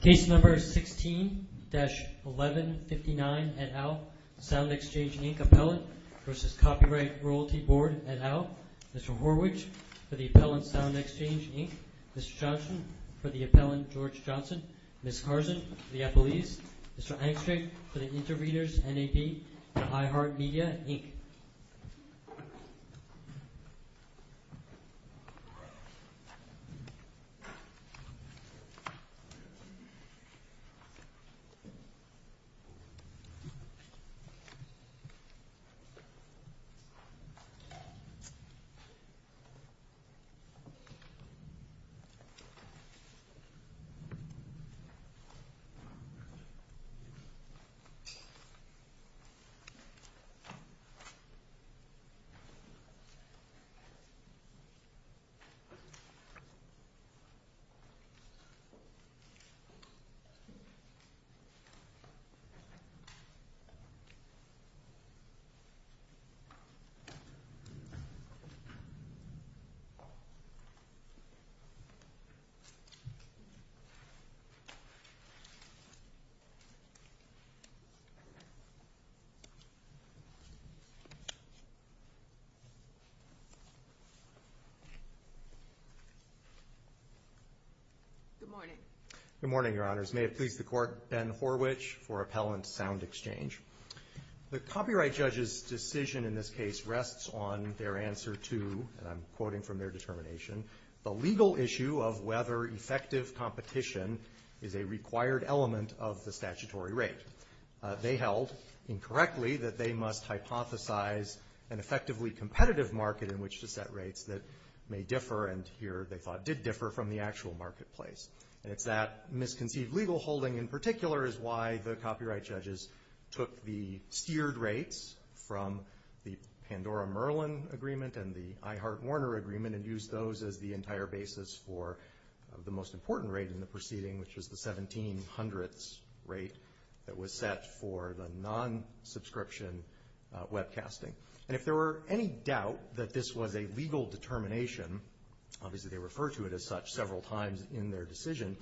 Case No. 16-1159, et al., SoundExchange, Inc., Appellant v. Copyright Royalty Board, et al., Mr. Horwich, for the Appellant, SoundExchange, Inc., Mr. Johnson, for the Appellant, George Johnson, Ms. Carson, for the Appellees, Mr. Angstreich, for the Interreaders, NAB, and iHeart Media, Inc. SoundExchange, Inc. SoundExchange, Inc. Good morning. Good morning, Your Honors. May it please the Court, Ben Horwich for Appellant, SoundExchange. The copyright judge's decision in this case rests on their answer to, and I'm quoting from their determination, the legal issue of whether effective competition is a required element of the statutory rate. They held, incorrectly, that they must hypothesize an effectively competitive market in which to set rates that may differ, and here they thought did differ from the actual marketplace. And it's that misconceived legal holding in particular is why the copyright judges took the steered rates from the Pandora-Merlin Agreement and the iHeart Warner Agreement and used those as the entire basis for the most important rate in the proceeding, which was the 17 hundredths rate that was set for the non-subscription webcasting. And if there were any doubt that this was a legal determination, obviously they refer to it as such several times in their decision,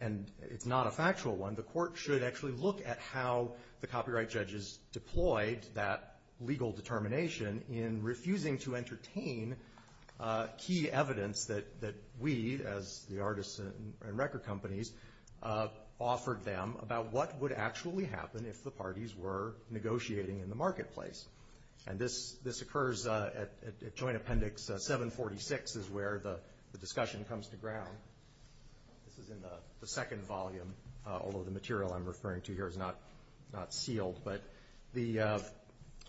and it's not a factual one. The Court should actually look at how the copyright judges deployed that legal determination in refusing to entertain key evidence that we, as the artists and record companies, offered them about what would actually happen if the parties were negotiating in the marketplace. And this occurs at Joint Appendix 746 is where the discussion comes to ground. This is in the second volume, although the material I'm referring to here is not sealed. But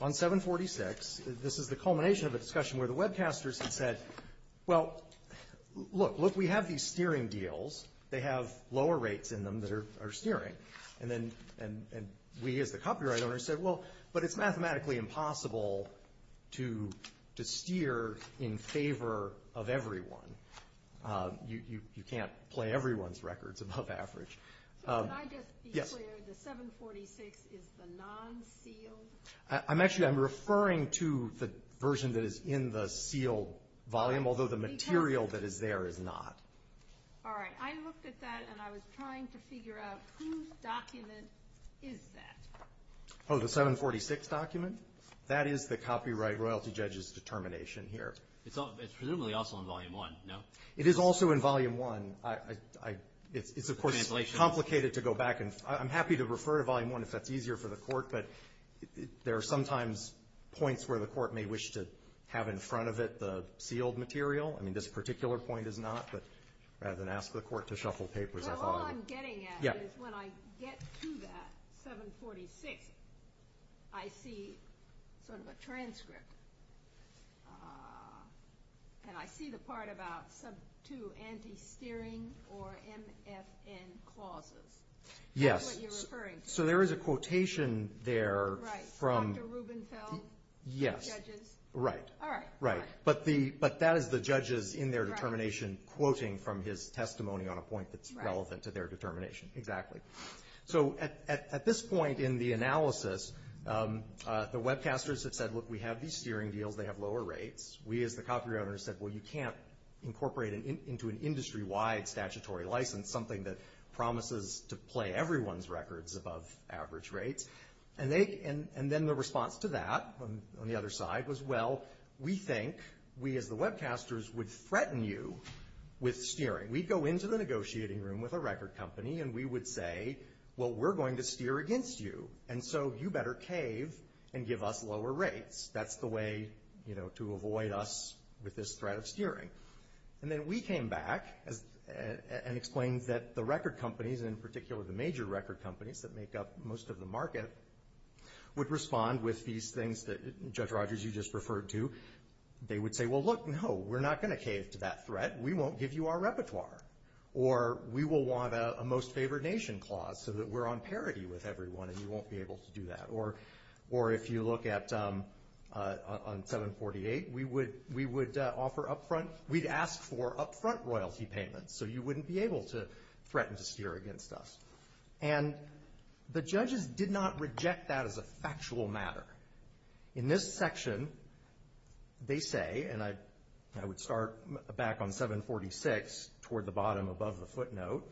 on 746, this is the culmination of a discussion where the webcasters had said, well, look, look, we have these steering deals. They have lower rates in them that are steering. And we, as the copyright owners, said, well, but it's mathematically impossible to steer in favor of everyone. You can't play everyone's records above average. Yes? The 746 is the non-sealed? I'm actually referring to the version that is in the sealed volume, although the material that is there is not. All right. I looked at that and I was trying to figure out whose document is that. Oh, the 746 document? That is the copyright royalty judge's determination here. It's presumably also in Volume 1, no? It is also in Volume 1. It's, of course, complicated to go back. I'm happy to refer to Volume 1 if that's easier for the court, but there are sometimes points where the court may wish to have in front of it the sealed material. I mean, this particular point is not, but rather than ask the court to shuffle papers, I thought I would. So all I'm getting at is when I get to that 746, I see sort of a transcript, and I see the part about sub 2 anti-steering or MFN clauses. Yes. That's what you're referring to. So there is a quotation there from… Right. Dr. Rubenfeld? Yes. Judges? Right. All right. Right. But that is the judges in their determination quoting from his testimony on a point that's relevant to their determination. Exactly. So at this point in the analysis, the webcasters have said, look, we have these steering deals. They have lower rates. We as the copyright owners said, well, you can't incorporate into an industry-wide statutory license something that promises to play everyone's records above average rates. And then the response to that on the other side was, well, we think we as the webcasters would threaten you with steering. We'd go into the negotiating room with a record company, and we would say, well, we're going to steer against you, and so you better cave and give us lower rates. That's the way to avoid us with this threat of steering. And then we came back and explained that the record companies, and in particular the major record companies that make up most of the market, would respond with these things that, Judge Rogers, you just referred to. They would say, well, look, no, we're not going to cave to that threat. We won't give you our repertoire. Or we will want a most favored nation clause so that we're on parity with everyone and you won't be able to do that. Or if you look at on 748, we would offer up front, we'd ask for up front royalty payments so you wouldn't be able to threaten to do that kind of stuff. And the judges did not reject that as a factual matter. In this section, they say, and I would start back on 746, toward the bottom above the footnote,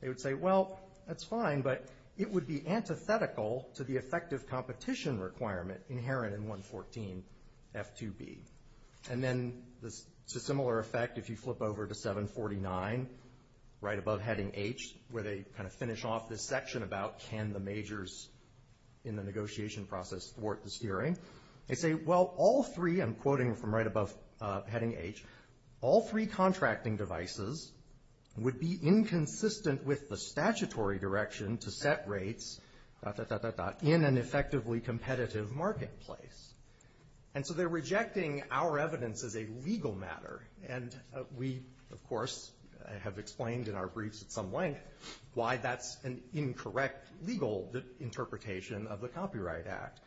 they would say, well, that's fine, but it would be antithetical to the effective competition requirement inherent in 114F2B. And then it's a similar effect if you flip over to 749, right above heading H, where they kind of finish off this section about can the majors in the negotiation process thwart this hearing. They say, well, all three, I'm quoting from right above heading H, all three contracting devices would be inconsistent with the statutory direction to set rates in an effectively competitive marketplace. And so they're rejecting our evidence as a legal matter. And we, of course, have explained in our briefs at some length why that's an incorrect legal interpretation of the Copyright Act.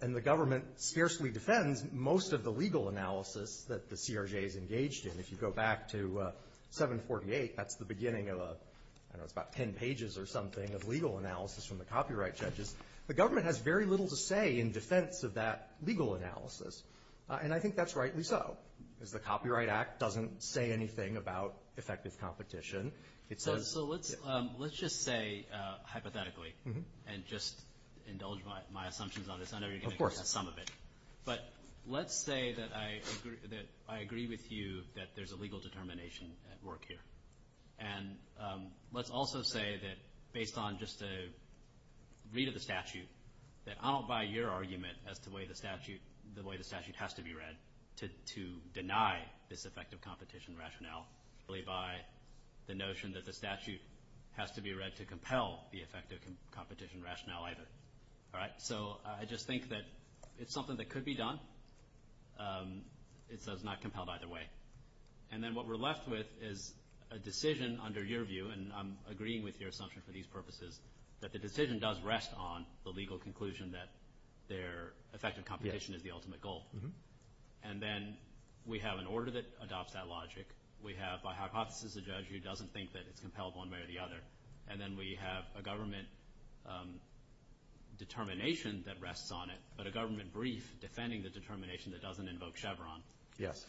And the government scarcely defends most of the legal analysis that the CRJ is engaged in. If you go back to 748, that's the beginning of a, I don't know, it's about ten pages or something of legal analysis from the copyright judges. The government has very little to say in defense of that legal analysis. And I think that's rightly so. Because the Copyright Act doesn't say anything about effective competition. So let's just say, hypothetically, and just indulge my assumptions on this. I know you're going to get to some of it. But let's say that I agree with you that there's a legal determination at work here. And let's also say that based on just a read of the statute, that I don't buy your argument as to the way the statute has to be read to deny this effective competition rationale. I don't buy the notion that the statute has to be read to compel the effective competition rationale either. All right? So I just think that it's something that could be done. It's not compelled either way. And then what we're left with is a decision under your view, and I'm agreeing with your purposes, that the decision does rest on the legal conclusion that their effective competition is the ultimate goal. And then we have an order that adopts that logic. We have, by hypothesis, a judge who doesn't think that it's compelled one way or the other. And then we have a government determination that rests on it, but a government brief defending the determination that doesn't invoke Chevron. Yes.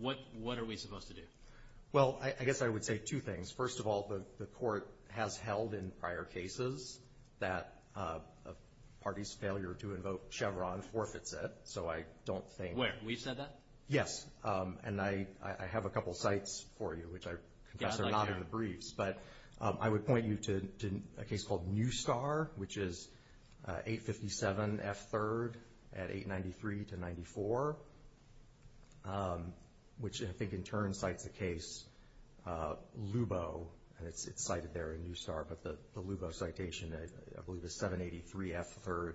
What are we supposed to do? Well, I guess I would say two things. First of all, the court has held in prior cases that a party's failure to invoke Chevron forfeits it. So I don't think — Wait. We've said that? Yes. And I have a couple of cites for you, which I confess are not in the briefs. Yeah, I'd like to. But I would point you to a case called New Star, which is 857 F. 3rd at 893 to 94, which I think in turn cites a case, Lubow, and it's cited there in New Star, but the Lubow citation, I believe it's 783 F. 3rd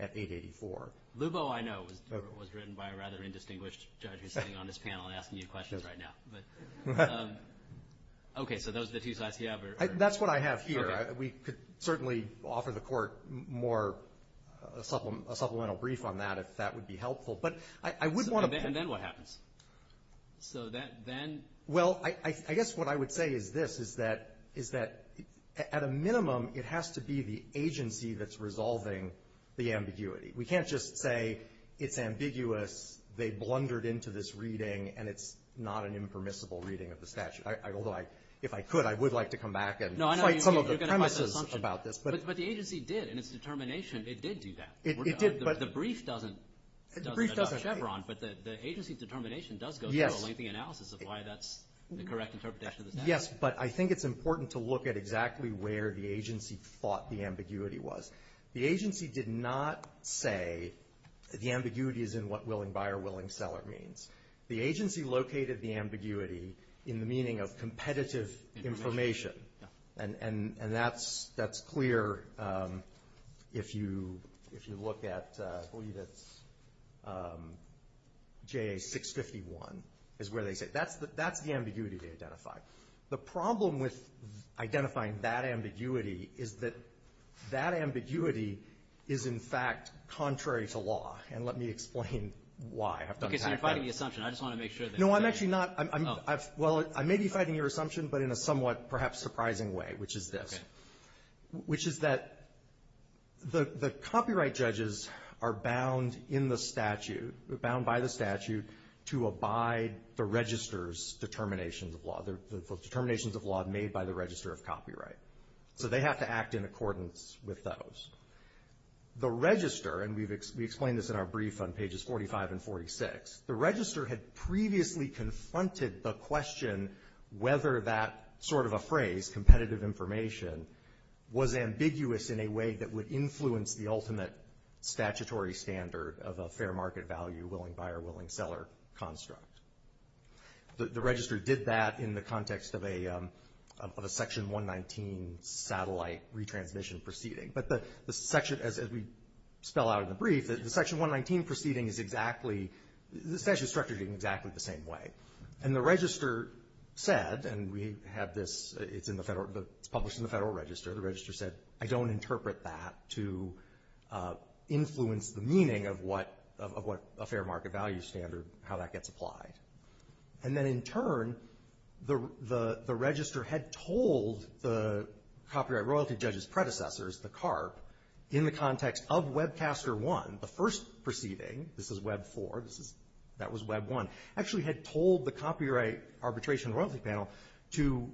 at 884. Lubow, I know, was written by a rather indistinguished judge who's sitting on this panel and asking you questions right now. Okay, so those are the two cites you have? That's what I have here. We could certainly offer the court more — a supplemental brief on that if that would be helpful. But I would want to — And then what happens? So then — Well, I guess what I would say is this, is that at a minimum, it has to be the agency that's resolving the ambiguity. We can't just say it's ambiguous, they blundered into this reading, and it's not an impermissible reading of the statute. Although if I could, I would like to come back and fight some of the premises about this. No, I know you're going to fight the assumption. But the agency did in its determination. It did do that. It did, but — The brief doesn't address Chevron, but the agency's determination does go through a lengthy analysis of why that's the correct interpretation of the statute. Yes, but I think it's important to look at exactly where the agency thought the ambiguity was. The agency did not say the ambiguity is in what willing buyer, willing seller means. The agency located the ambiguity in the meaning of competitive information. And that's clear if you look at, I believe it's JA 651 is where they say. That's the ambiguity they identified. The problem with identifying that ambiguity is that that ambiguity is, in fact, contrary to law. And let me explain why. Okay, so you're fighting the assumption. I just want to make sure that — No, I'm actually not. Oh. Well, I may be fighting your assumption, but in a somewhat perhaps surprising way, which is this. Okay. Which is that the copyright judges are bound in the statute, bound by the statute, to abide the register's determinations of law, the determinations of law made by the Register of Copyright. So they have to act in accordance with those. The Register, and we've explained this in our brief on pages 45 and 46, the Register had previously confronted the question whether that sort of a phrase, competitive information, was ambiguous in a way that would influence the ultimate statutory standard of a fair market value, willing buyer, willing seller construct. The Register did that in the context of a Section 119 satellite retransmission proceeding. But the section, as we spell out in the brief, the Section 119 proceeding is exactly — it's actually structured in exactly the same way. And the Register said, and we have this — it's in the Federal — it's published in the Federal Register. The Register said, I don't interpret that to influence the meaning of what — of what a fair market value standard, how that gets applied. And then in turn, the — the Register had told the copyright royalty judge's predecessors, the CARB, in the context of Webcaster 1, the first proceeding, this is Web 4, this is — that was Web 1, actually had told the Copyright Arbitration Royalty Panel to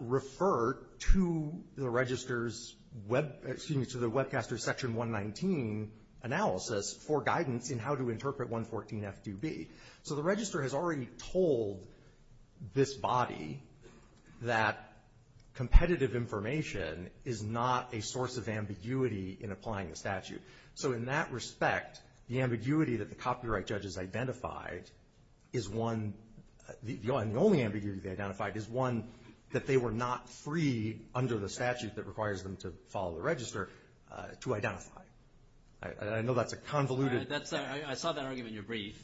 refer to the Register's Web — excuse me, to the Webcaster's Section 119 analysis for guidance in how to interpret 114F2B. So the Register has already told this body that competitive information is not a source of ambiguity in applying the statute. So in that respect, the ambiguity that the copyright judges identified is one — the only ambiguity they identified is one that they were not free under the statute that requires them to follow the Register to identify. I know that's a convoluted — convoluted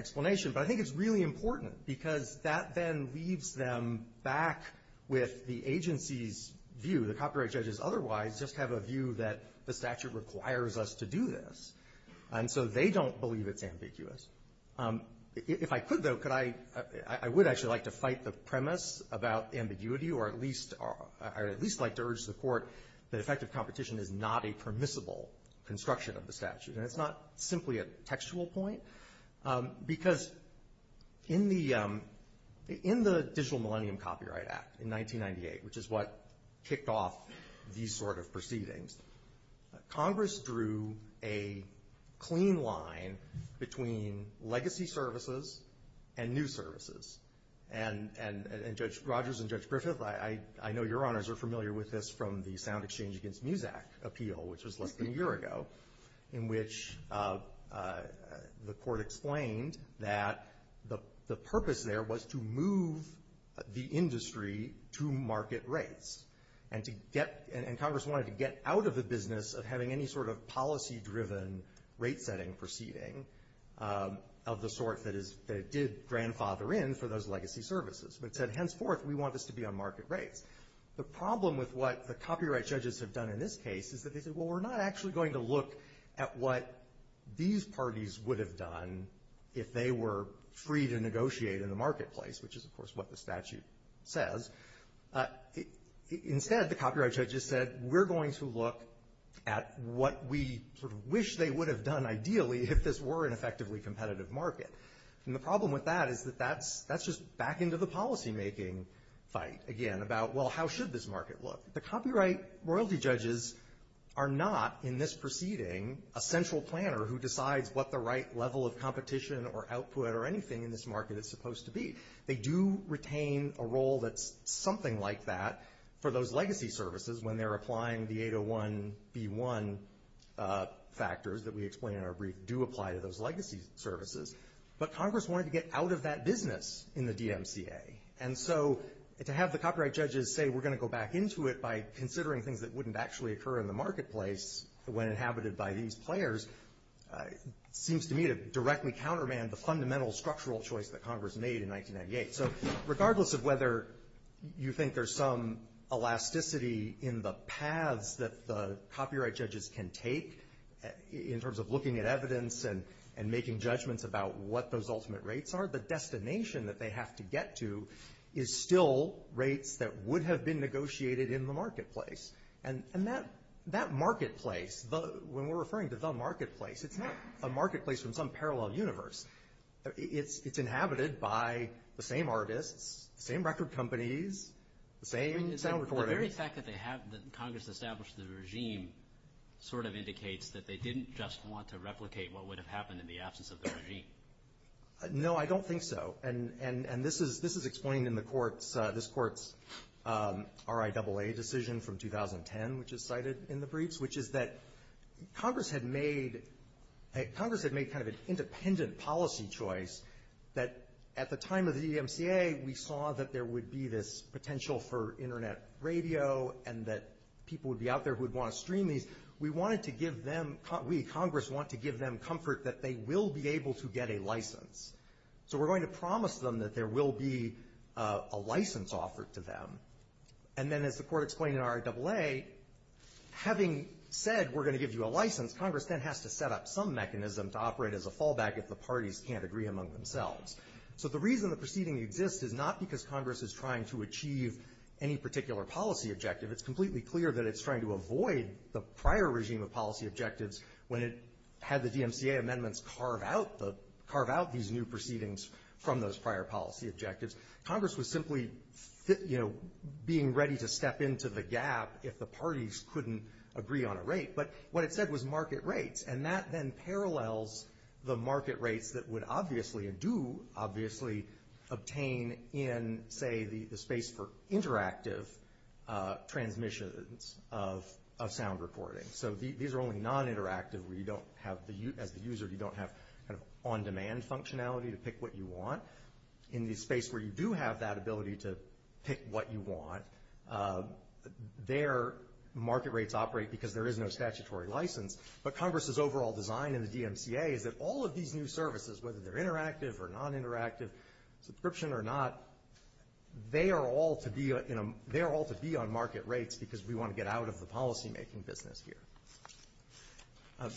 explanation, but I think it's really important because that then leaves them back with the agency's view that copyright judges otherwise just have a view that the statute requires us to do this. And so they don't believe it's ambiguous. If I could, though, could I — I would actually like to fight the premise about ambiguity or at least — I would at least like to urge the Court that effective competition is not a permissible construction of the statute. And it's not simply a textual point. Because in the — in the Digital Millennium Copyright Act in 1998, which is what kicked off these sort of proceedings, Congress drew a clean line between legacy services and new services. And Judge Rogers and Judge Griffith, I know your Honors are familiar with this from the Sound Exchange Against MUSAC appeal, which was less than a year ago, in which the Court explained that the purpose there was to move the industry to market rates and to get — and Congress wanted to get out of the business of having any sort of policy-driven rate-setting proceeding of the sort that is — that it did grandfather in for those legacy services. But it said, henceforth, we want this to be on market rates. The problem with what the copyright judges have done in this case is that they said, well, we're not actually going to look at what these parties would have done if they were free to negotiate in the marketplace, which is, of course, what the statute says. Instead, the copyright judges said, we're going to look at what we sort of wish they would have done, ideally, if this were an effectively competitive market. And the problem with that is that that's just back into the policymaking fight again about, well, how should this market look? The copyright royalty judges are not, in this proceeding, a central planner who decides what the right level of competition or output or anything in this market is supposed to be. They do retain a role that's something like that for those legacy services when they're applying the 801B1 factors that we explain in our brief do apply to those legacy services. But Congress wanted to get out of that business in the DMCA. And so to have the copyright judges say, we're going to go back into it by considering things that wouldn't actually occur in the marketplace when inhabited by these players seems to me to directly countermand the fundamental structural choice that Congress made in 1998. So regardless of whether you think there's some elasticity in the paths that the copyright judges can take in terms of looking at evidence and making judgments about what those ultimate rates are, the destination that they have to get to is still rates that would have been negotiated in the marketplace. And that marketplace, when we're referring to the marketplace, it's not a marketplace from some parallel universe. It's inhabited by the same artists, the same record companies, the same sound recordings. The very fact that Congress established the regime sort of indicates that they didn't just want to replicate what would have happened in the absence of the regime. No, I don't think so. And this is explained in this court's RIAA decision from 2010, which is cited in the briefs, which is that Congress had made kind of an independent policy choice that at the time of the DMCA, we saw that there would be this potential for Internet radio and that people would be out there who would want to stream these. We wanted to give them, we, Congress, want to give them comfort that they will be able to get a license. So we're going to promise them that there will be a license offered to them. And then as the court explained in RIAA, having said we're going to give you a license, Congress then has to set up some mechanism to operate as a fallback if the parties can't agree among themselves. So the reason the proceeding exists is not because Congress is trying to achieve any particular policy objective. It's completely clear that it's trying to avoid the prior regime of policy objectives when it had the DMCA amendments carve out these new proceedings from those prior policy objectives. Congress was simply, you know, being ready to step into the gap if the parties couldn't agree on a rate. But what it said was market rates. And that then parallels the market rates that would obviously, and do obviously, obtain in, say, the space for interactive transmissions of sound recording. So these are only non-interactive where you don't have, as the user, you don't have kind of on-demand functionality to pick what you want. In the space where you do have that ability to pick what you want, their market rates operate because there is no statutory license. But Congress's overall design in the DMCA is that all of these new services, whether they're interactive or non-interactive, subscription or not, they are all to be on market rates because we want to get out of the policymaking business here.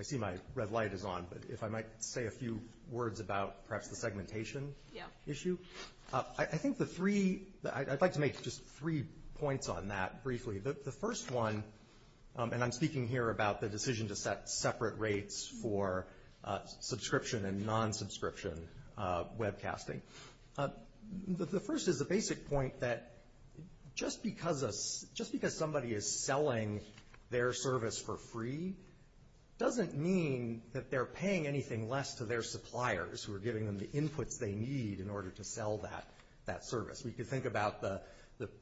I see my red light is on, but if I might say a few words about perhaps the segmentation issue. I think the three, I'd like to make just three points on that briefly. The first one, and I'm speaking here about the decision to set separate rates for subscription and non-subscription webcasting. The first is the basic point that just because somebody is selling their service for free doesn't mean that they're paying anything less to their suppliers who are giving them the inputs they need in order to sell that service. We can think about the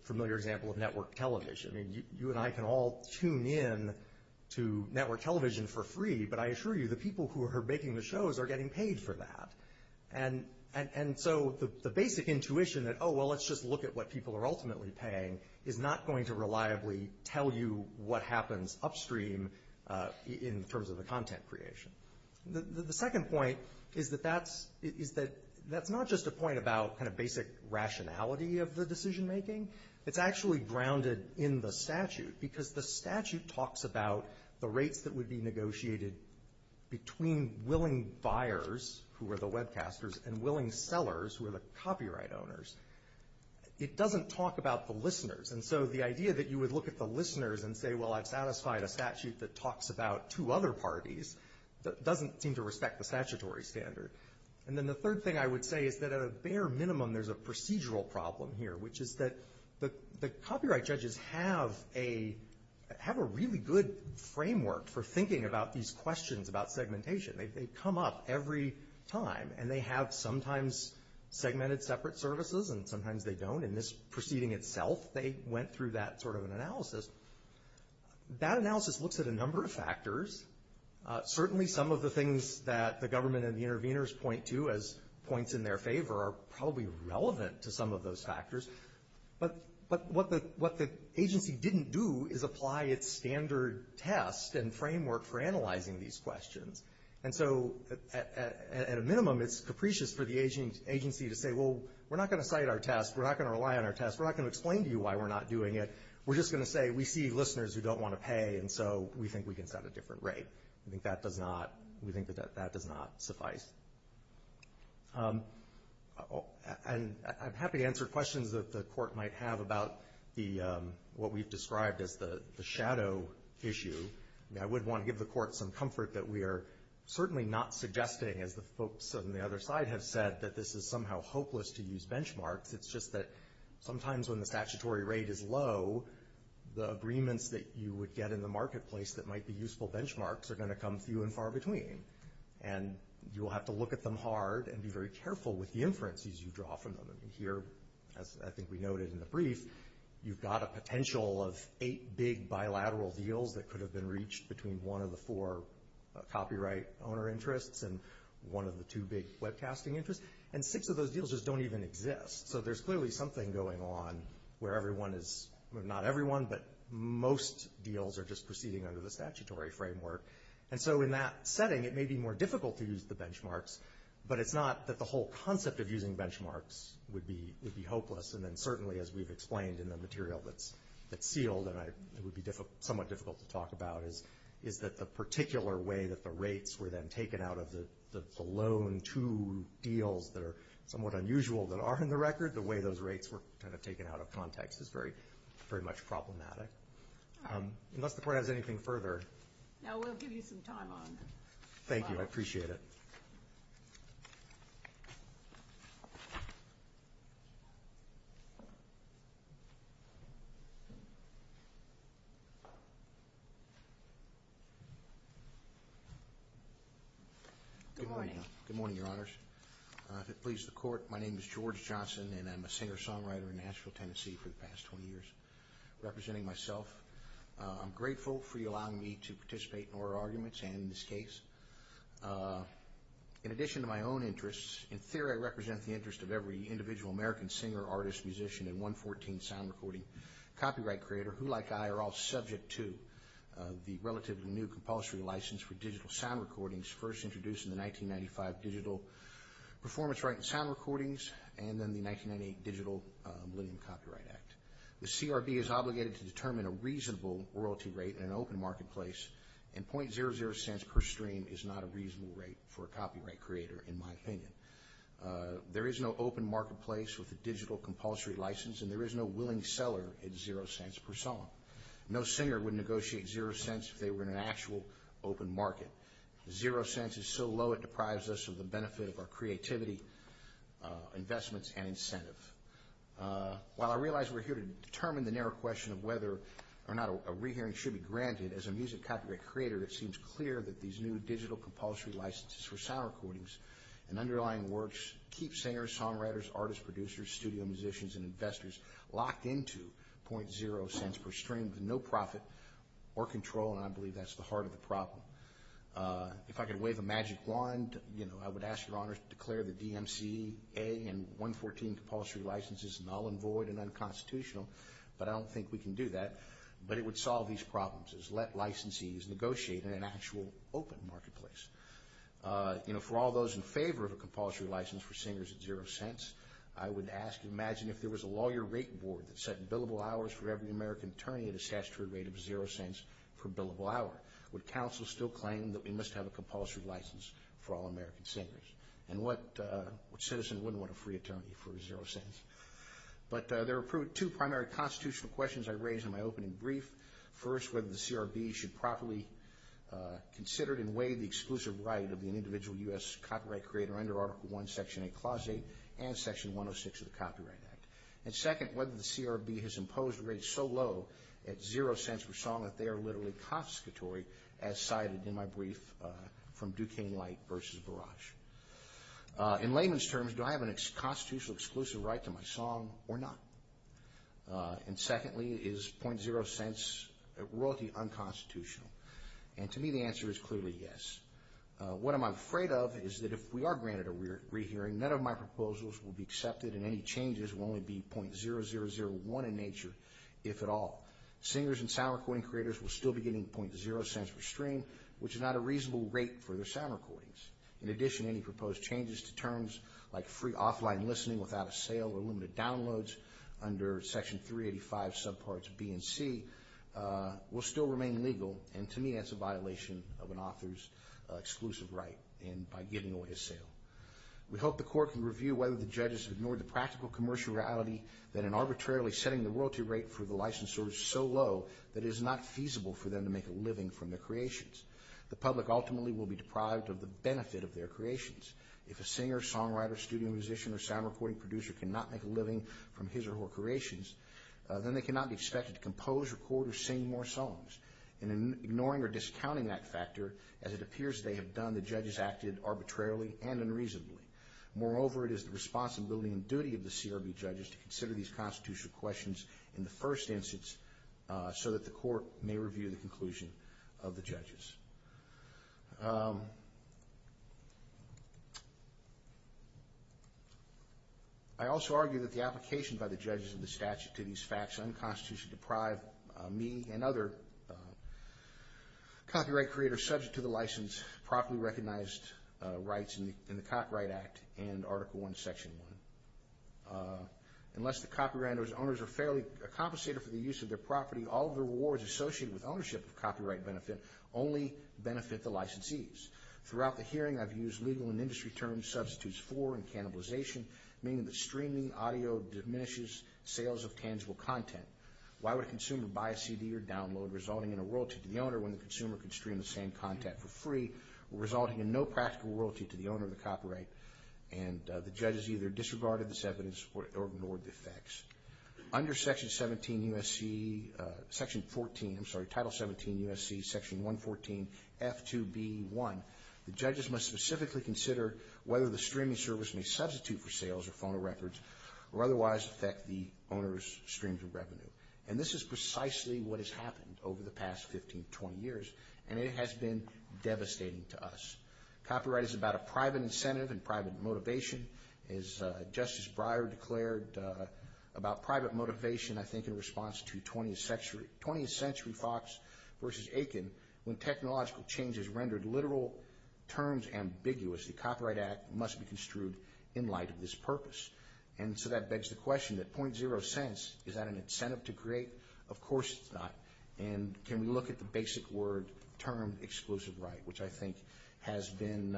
familiar example of network television. You and I can all tune in to network television for free, but I assure you the people who are making the shows are getting paid for that. And so the basic intuition that, oh, well, let's just look at what people are ultimately paying, is not going to reliably tell you what happens upstream in terms of the content creation. The second point is that that's not just a point about kind of basic rationality of the decision making. It's actually grounded in the statute, because the statute talks about the rates that would be negotiated between willing buyers, who are the webcasters, and willing sellers, who are the copyright owners. It doesn't talk about the listeners, and so the idea that you would look at the listeners and say, well, I've satisfied a statute that talks about two other parties doesn't seem to respect the statutory standard. And then the third thing I would say is that at a bare minimum there's a procedural problem here, which is that the copyright judges have a really good framework for thinking about these questions about segmentation. They come up every time, and they have sometimes segmented separate services, and sometimes they don't. In this proceeding itself, they went through that sort of an analysis. That analysis looks at a number of factors. Certainly some of the things that the government and the interveners point to as points in their favor are probably relevant to some of those factors. But what the agency didn't do is apply its standard test and framework for analyzing these questions. And so at a minimum it's capricious for the agency to say, well, we're not going to cite our test. We're not going to rely on our test. We're not going to explain to you why we're not doing it. We're just going to say we see listeners who don't want to pay, and so we think we can set a different rate. We think that that does not suffice. And I'm happy to answer questions that the Court might have about what we've described as the shadow issue. I would want to give the Court some comfort that we are certainly not suggesting, as the folks on the other side have said, that this is somehow hopeless to use benchmarks. It's just that sometimes when the statutory rate is low, the agreements that you would get in the marketplace that might be useful benchmarks are going to come few and far between. And you'll have to look at them hard and be very careful with the inferences you draw from them. Here, as I think we noted in the brief, you've got a potential of eight big bilateral deals that could have been reached between one of the four copyright owner interests and one of the two big webcasting interests. And six of those deals just don't even exist. So there's clearly something going on where everyone is, well, not everyone, but most deals are just proceeding under the statutory framework. And so in that setting, it may be more difficult to use the benchmarks, but it's not that the whole concept of using benchmarks would be hopeless. And then certainly, as we've explained in the material that's sealed, and it would be somewhat difficult to talk about, is that the particular way that the rates were then taken out of the loan to deals that are somewhat unusual that are in the record, the way those rates were kind of taken out of context is very much problematic. Unless the Court has anything further. Thank you. I appreciate it. Good morning. Good morning, Your Honors. If it pleases the Court, my name is George Johnson, and I'm a singer-songwriter in Nashville, Tennessee for the past 20 years, representing myself. I'm grateful for you allowing me to participate in our arguments and in this case. In addition to my own interests, in theory I represent the interest of every individual American singer, artist, musician, and 114 sound recording copyright creator who, like I, are all subject to the relatively new compulsory license for digital sound recordings, first introduced in the 1995 Digital Performance Rights and Sound Recordings, and then the 1998 Digital Millennium Copyright Act. The CRB is obligated to determine a reasonable royalty rate in an open marketplace in .00 cents per stream is not a reasonable rate for a copyright creator, in my opinion. There is no open marketplace with a digital compulsory license, and there is no willing seller at .00 cents per song. No singer would negotiate .00 cents if they were in an actual open market. .00 cents is so low it deprives us of the benefit of our creativity, investments, and incentive. While I realize we're here to determine the narrow question of whether or not a rehearing should be granted, as a music producer, I would like to ask your Honor to declare the DMCA and 114 compulsory licenses null and void and unconstitutional, but I don't think we can do that, but it would solve these problems. Let licensees negotiate in an actual open marketplace. For all those in favor of a compulsory license for singers at .00 cents, I would ask you to imagine if there was a lawyer rate board that set billable hours for every American attorney at a statutory rate of .00 cents per billable hour. Would counsel still claim that we must have a compulsory license for all American singers? And what citizen wouldn't want a free attorney for .00 cents? But there are two primary constitutional questions I raised in my opening brief. First, whether the CRB should properly consider and waive the exclusive right of an individual U.S. copyright creator under Article I, Section 8, Clause 8, and Section 106 of the Copyright Act. And second, whether the CRB has imposed rates so low at .00 cents per song that they are literally confiscatory, as cited in my brief from Duquesne Light versus Barrage. In layman's terms, do I have a constitutional exclusive right to my song or not? And secondly, is .00 cents royalty unconstitutional? And to me, the answer is clearly yes. What I'm afraid of is that if we are granted a rehearing, none of my proposals will be accepted and any changes will only be .0001 in nature, if at all. Singers and sound recording creators will still be getting .00 cents per stream, which is not a reasonable rate for their sound recordings. In addition, any proposed changes to terms like free offline listening without a sale or limited downloads under Section 385 subparts B and C will still remain legal, and to me that's a violation of an author's exclusive right and by giving away a sale. We hope the Court can review whether the judges have ignored the practical commercial reality that in arbitrarily setting the royalty rate for the licensor so low that it is not feasible for them to make a living from their creations. The public ultimately will be deprived of the benefit of their creations. If a singer, songwriter, studio musician, or sound recording producer cannot make a living from his or her creations, then they cannot be expected to compose, record, or sing more songs. In ignoring or discounting that factor, as it appears they have done, the judges acted arbitrarily and unreasonably. Moreover, it is the responsibility and duty of the CRB judges to consider these constitutional questions in the first instance so that the Court may review the conclusion of the judges. I also argue that the application by the judges of the statute to these facts unconstitutionally deprive me and other copyright creators subject to the license, properly recognized rights in the Copyright Act and Article I, Section 1. Unless the copywriter's owners are fairly compensated for the use of their property, all of the rewards associated with ownership of copyright benefit only benefit the licensees. Throughout the hearing I've used legal and industry terms such as substitutes for and cannibalization, meaning that streaming audio diminishes sales of tangible content. Why would a consumer buy a CD or download, resulting in a royalty to the owner, when the consumer can stream the same content for free, resulting in no practical royalty to the owner of the copyright? The judges either disregarded this evidence or ignored the facts. Under Title 17 U.S.C. Section 114, F.2.B.1, the judges must specifically consider whether the streaming service may substitute for sales of phono records or otherwise affect the owner's streams of revenue. And this is precisely what has happened over the past 15, 20 years, and it has been devastating to us. Copyright is about a private incentive and private motivation. As Justice Breyer declared about private motivation, I think in response to 20th Century Fox v. Aiken, when technological change has rendered literal terms ambiguous, the Copyright Act must be construed in light of this purpose. And so that begs the question, that .0 cents, is that an incentive to create? Of course it's not. And can we look at the basic word, term, exclusive right, which I think has been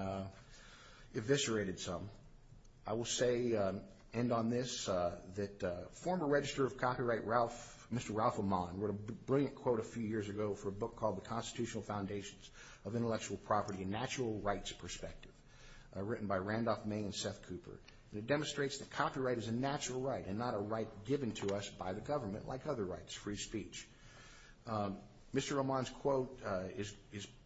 eviscerated some. I will say, end on this, that former Register of Copyright Mr. Ralph Amann wrote a brilliant quote a few years ago for a book called The Constitutional Foundations of Intellectual Property and Natural Rights Perspective. Written by Randolph May and Seth Cooper. And it demonstrates that copyright is a natural right and not a right given to us by the government like other rights, free speech. Mr. Amann's quote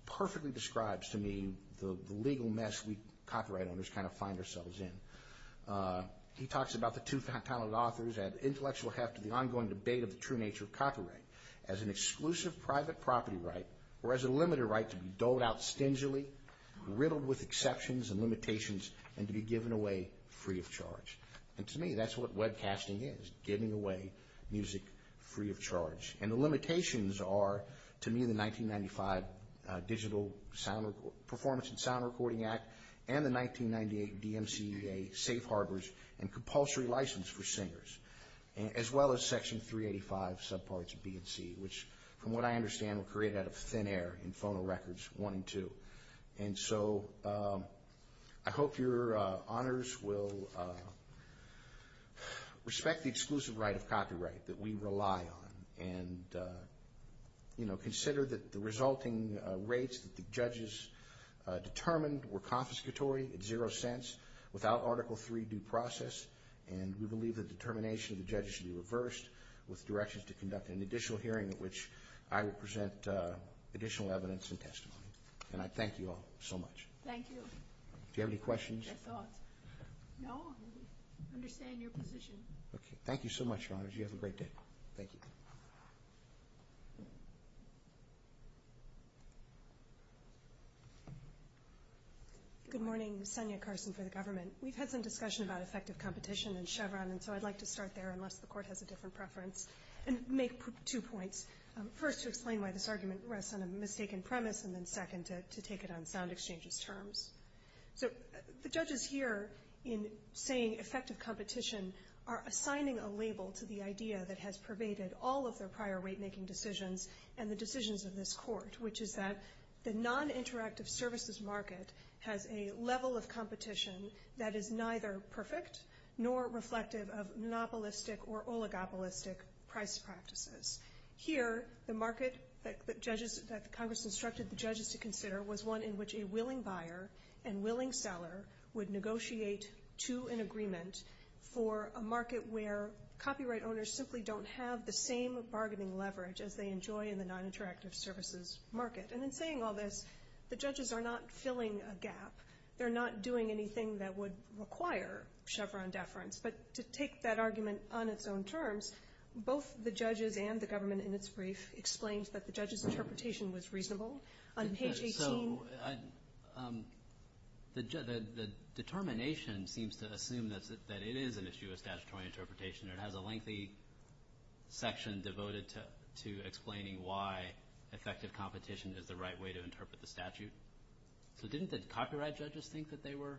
perfectly describes to me the legal mess we copyright owners kind of find ourselves in. He talks about the two talented authors and intellectual heft of the ongoing debate of the true nature of copyright as an exclusive private property right or as a limited right to be doled out stingily, riddled with exceptions and limitations and to be given away free of charge. And to me, that's what webcasting is, giving away music free of charge. And the limitations are, to me, the 1995 Digital Performance and Sound Recording Act and the 1998 DMCA Safe Harbors and compulsory license for singers, as well as Section 385 subparts B and C, which from what I understand were created out of thin air in phono records 1 and 2. And so I hope your honors will respect the exclusive right of copyright that we rely on and consider that the resulting rates that the judges determined were confiscatory at zero cents without Article 3 due process. And we believe the determination of the judges should be reversed with directions to conduct an additional hearing at which I would present additional evidence and testimony. And I thank you all so much. Thank you. Do you have any questions? No? I understand your position. Thank you so much, your honors. You have a great day. Thank you. Good morning. We've had some discussion about effective competition in Chevron, and so I'd like to start there, unless the court has a different preference, and make two points. First, to explain why this argument rests on a mistaken premise, and then second, to take it on sound exchanges terms. So the judges here, in saying effective competition, are assigning a label to the idea that has pervaded all of their prior rate-making decisions and the decisions of this court, which is that the non-interactive services market has a level of competition that is neither perfect nor reflective of monopolistic or oligopolistic price practices. Here, the market that the judges, that Congress instructed the judges to consider was one in which a willing buyer and willing seller would negotiate to an agreement for a market where copyright owners simply don't have the same bargaining leverage as they enjoy in the non-interactive services market. And in saying all this, the judges are not filling a gap. They're not doing anything that would require Chevron deference. But to take that argument on its own terms, both the judges and the government in its brief explained that the judges' interpretation was reasonable. The determination seems to assume that it is an issue of statutory interpretation. It has a lengthy section devoted to explaining why effective competition is the right way to interpret the statute. So didn't the copyright judges think that they were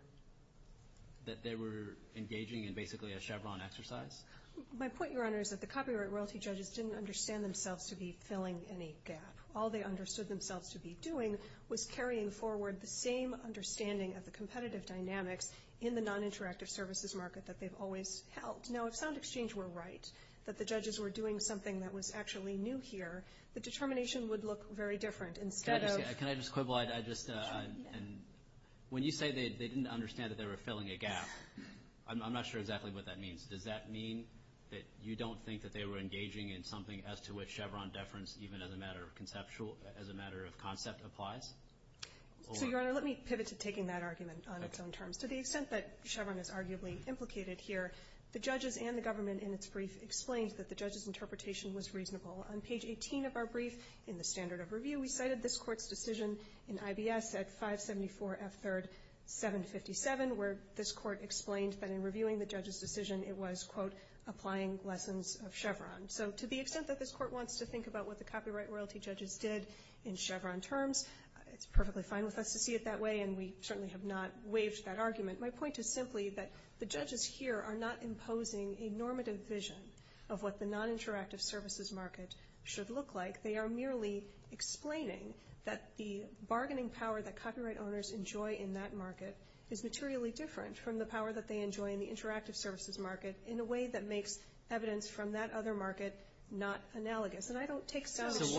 engaging in basically a Chevron exercise? My point, Your Honor, is that the copyright royalty judges didn't understand themselves to be filling any gap. All they understood themselves to be doing was carrying forward the same understanding of the competitive dynamics in the non-interactive services market that they've always held. Now, if sound exchange were right, that the judges were doing something that was actually new here, the determination would look very different. When you say they didn't understand that they were filling a gap, I'm not sure exactly what that means. Does that mean that you don't think that they were engaging in something as to which Chevron deference, even as a matter of conceptual, as a matter of concept, applies? So, Your Honor, let me pivot to taking that argument on its own terms. To the extent that Chevron is arguably implicated here, the judges and the government in its brief explained that the judges' interpretation was reasonable. On page 18 of our brief, in the standard of review, we cited this Court's decision in IBS at 574 F3rd 757, where this Court explained that in reviewing the judges' decision it was, quote, applying lessons of Chevron. So to the extent that this Court wants to think about what the copyright royalty judges did in Chevron terms, it's perfectly fine with us to see it that way, and we certainly have not waived that argument. My point is simply that the judges here are not imposing a normative vision of what the non-interactive services market should look like. They are merely explaining that the bargaining power that copyright owners enjoy in that market is materially different from the power that they enjoy in the interactive services market in a way that makes evidence from that other market not analogous. And I don't take it seriously.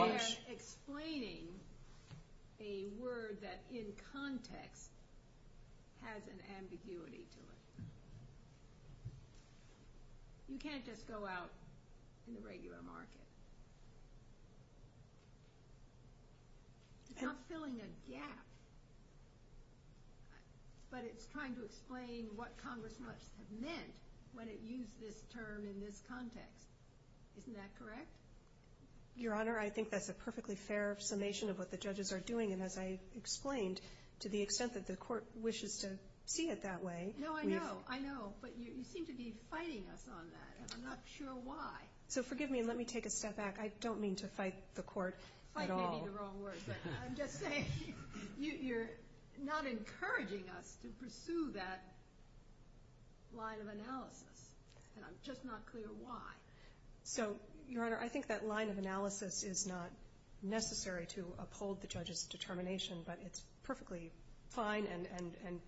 You can't just go out in the regular market. It's not filling a gap. But it's trying to explain what Congress must have meant when it used this term in this context. Isn't that correct? Your Honor, I think that's a perfectly fair summation of what the judges are doing, and as I explained, to the extent that the Court wishes to see it that way... I know, I know, but you seem to be fighting us on that, and I'm not sure why. So forgive me, and let me take a step back. I don't mean to fight the Court at all. Fight may be the wrong word, but I'm just saying you're not encouraging us to pursue that line of analysis, and I'm just not clear why. So, Your Honor, I think that line of analysis is not necessary to uphold the judges' determination, but it's perfectly fine and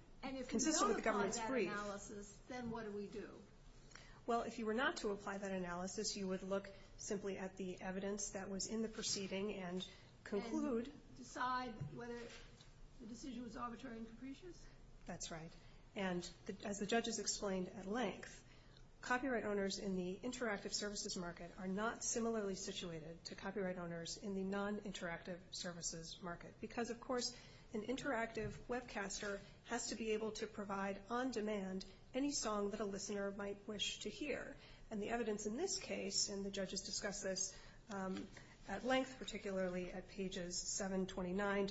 consistent with the government's brief. And if we don't apply that analysis, then what do we do? Well, if you were not to apply that analysis, you would look simply at the evidence that was in the proceeding and conclude... And decide whether the decision was arbitrary and capricious? That's right. And as the judges explained at length, copyright owners in the interactive services market are not similarly situated to copyright owners in the non-interactive services market, because, of course, an interactive webcaster has to be able to provide on demand any song that a listener might wish to hear. And the evidence in this case, and the judges discussed this at length, particularly at pages 729,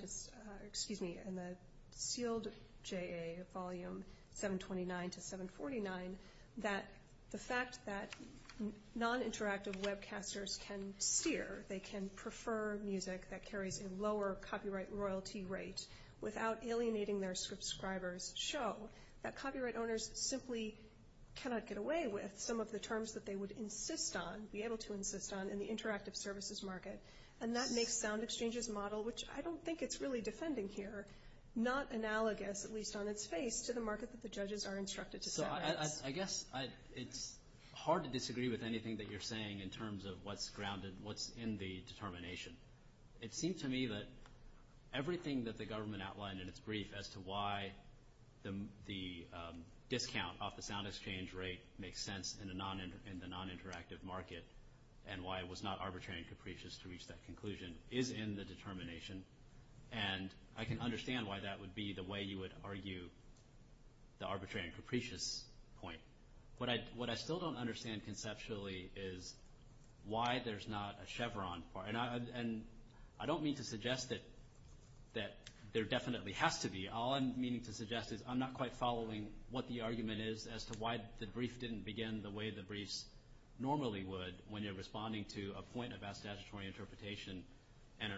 excuse me, in the sealed JA, volume 729 to 749, that the fact that non-interactive webcasters can steer, they can prefer music that carries a lower copyright royalty rate without alienating their subscribers, show that copyright owners simply cannot get away with some of the terms that they would insist on, be able to insist on in the interactive services market. And that makes SoundExchange's model, which I don't think it's really defending here, not analogous, at least on its face, to the market that the judges are instructed to set. So I guess it's hard to disagree with anything that you're saying in terms of what's grounded, what's in the determination. It seems to me that everything that the government outlined in its brief as to why the discount off the SoundExchange rate makes sense in the non-interactive market, and why it was not arbitrary and capricious to reach that conclusion, is in the determination. And I can understand why that would be the way you would argue the arbitrary and capricious point. What I still don't understand conceptually is why there's not a chevron. And I don't mean to suggest that there definitely has to be. All I'm meaning to suggest is I'm not quite following what the argument is as to why the brief didn't begin the way the briefs normally would when you're responding to a point about statutory interpretation and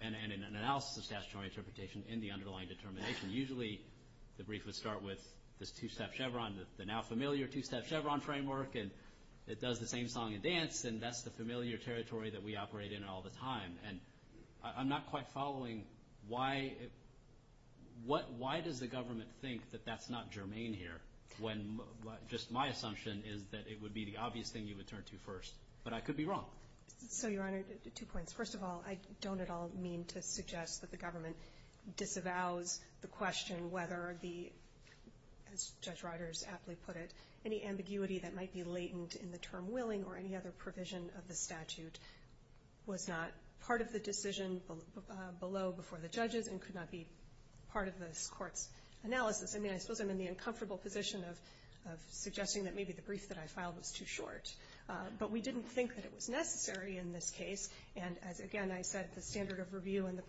an analysis of statutory interpretation in the underlying determination. Usually the brief would start with this two-step chevron, the now familiar two-step chevron framework, and it does the same song and dance, and that's the familiar territory that we operate in all the time. And I'm not quite following why does the government think that that's not germane here when just my assumption is that it would be the obvious thing you would turn to first. But I could be wrong. So, Your Honor, two points. First of all, I don't at all mean to suggest that the government disavows the question whether the, as Judge Reuters aptly put it, any ambiguity that might be latent in the term willing or any other provision of the statute was not part of the decision below before the judges and could not be part of this Court's analysis. I mean, I suppose I'm in the uncomfortable position of suggesting that maybe the brief that I filed was too short. But we didn't think that it was necessary in this case. And as, again, I said, the standard of review and the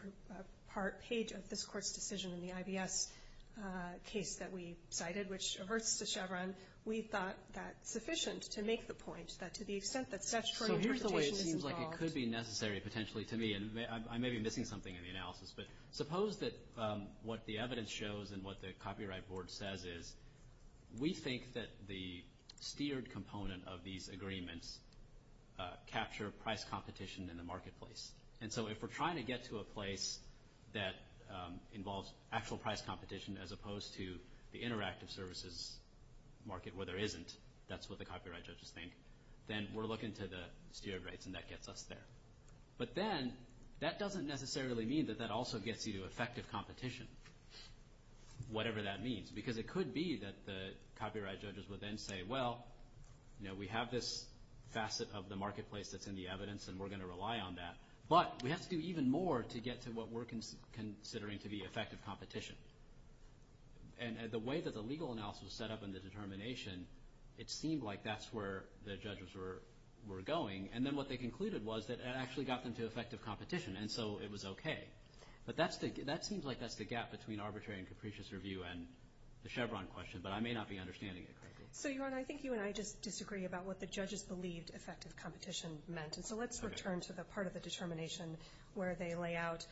part page of this Court's decision in the IBS case that we cited, which averts the chevron, we thought that sufficient to make the point that to the extent that statutory interpretation is involved. So here's the way it seems like it could be necessary potentially to me, and I may be missing something in the analysis, but suppose that what the evidence shows and what the Copyright Board says is we think that the steered component of these agreements capture price competition in the marketplace. And so if we're trying to get to a place that involves actual price competition as opposed to the interactive services market where there isn't, that's what the copyright judges think, then we're looking to the steered rates and that gets us there. But then that doesn't necessarily mean that that also gets you to effective competition, whatever that means. Because it could be that the copyright judges would then say, well, we have this facet of the marketplace that's in the evidence and we're going to rely on that. But we have to do even more to get to what we're considering to be effective competition. And the way that the legal analysis was set up and the determination, it seemed like that's where the judges were going. And then what they concluded was that it actually got them to effective competition. And so it was okay. But that seems like that's the gap between arbitrary and capricious review and the Chevron question, but I may not be understanding it correctly. So, Yaron, I think you and I just disagree about what the judges believed effective competition meant. And so let's return to the part of the determination where they lay out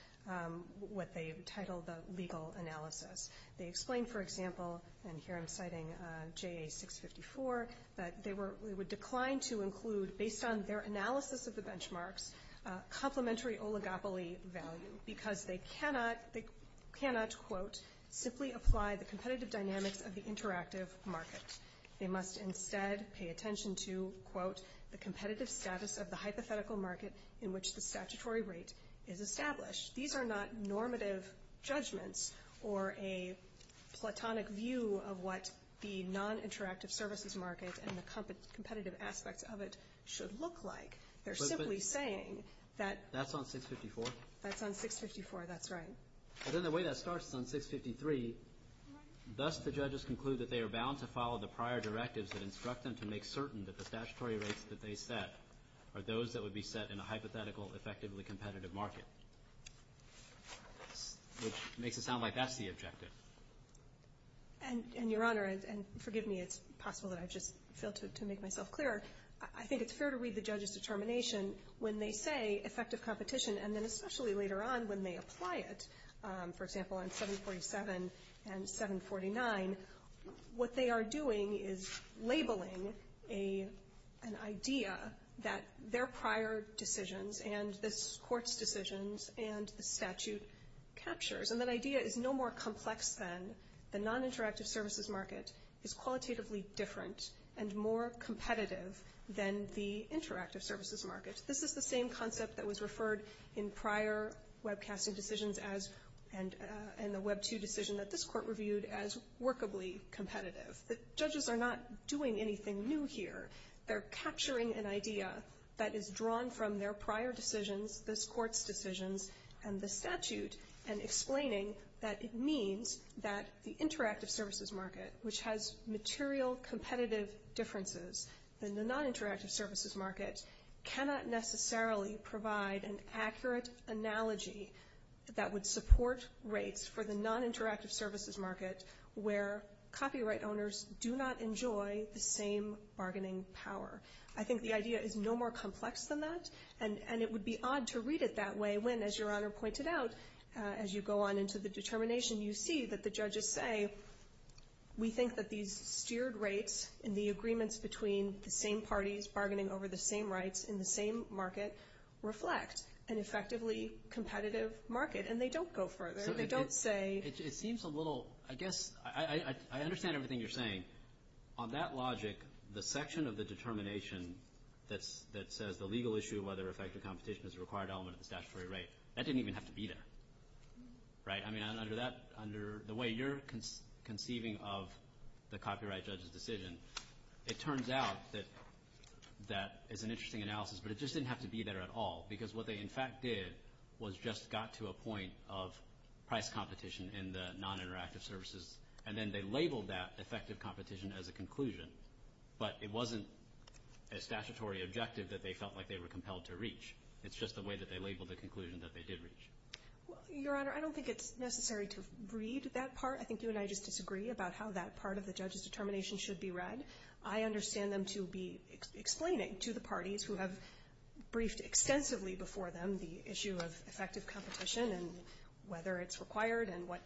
what they titled the legal analysis. They explained, for example, and here I'm citing JA 654, that they would decline to include, in their remarks, complementary oligopoly value because they cannot, quote, simply apply the competitive dynamics of the interactive market. They must instead pay attention to, quote, the competitive status of the hypothetical market in which the statutory rate is established. These are not normative judgments or a platonic view of what the non-interactive services market and the competitive aspects of it should look like. They're simply saying that That's on 654? That's on 654, that's right. But then the way that starts is on 653. Thus, the judges conclude that they are bound to follow the prior directives that instruct them to make certain that the statutory rates that they set are those that would be set in a hypothetical, effectively competitive market, which makes it sound like that's the objective. And Your Honor, and forgive me, it's possible that I've just failed to make myself clear. I think it's fair to read the judge's determination when they say effective competition, and then especially later on when they apply it. For example, on 747 and 749, what they are doing is labeling an idea and the idea is no more complex than the non-interactive services market is qualitatively different and more competitive than the interactive services market. This is the same concept that was referred in prior webcasting decisions and the Web 2 decision that this court reviewed as workably competitive. The judges are not doing anything new here. They're capturing an idea that is drawn from their prior decisions, this court's decisions, and the statute, and explaining that it means that the interactive services market, which has material competitive differences than the non-interactive services market, cannot necessarily provide an accurate analogy that would support rates for the non-interactive services market where copyright owners do not enjoy the same bargaining power. I think the idea is no more complex than that, and it would be odd to read it that way when, as Your Honor pointed out, as you go on into the determination, you see that the judges say, we think that these steered rates in the agreements between the same parties bargaining over the same rights in the same market reflect an effectively competitive market, and they don't go further. They don't say... I understand everything you're saying. On that logic, the section of the determination that says the legal issue of whether effective competition is a required element of the statutory rate, that didn't even have to be there. Under the way you're conceiving of the copyright judge's decision, it turns out that that is an interesting analysis, but it just didn't have to be there at all, because what they in fact did was just got to a point of price competition in the non-interactive services, and then they labeled that effective competition as a conclusion, but it wasn't a statutory objective that they felt like they were compelled to reach. It's just the way that they labeled the conclusion that they did reach. Your Honor, I don't think it's necessary to read that part. I think you and I just disagree about how that part of the judge's determination should be read. I understand them to be explaining to the parties who have briefed extensively before them the issue of effective competition and whether it's required and what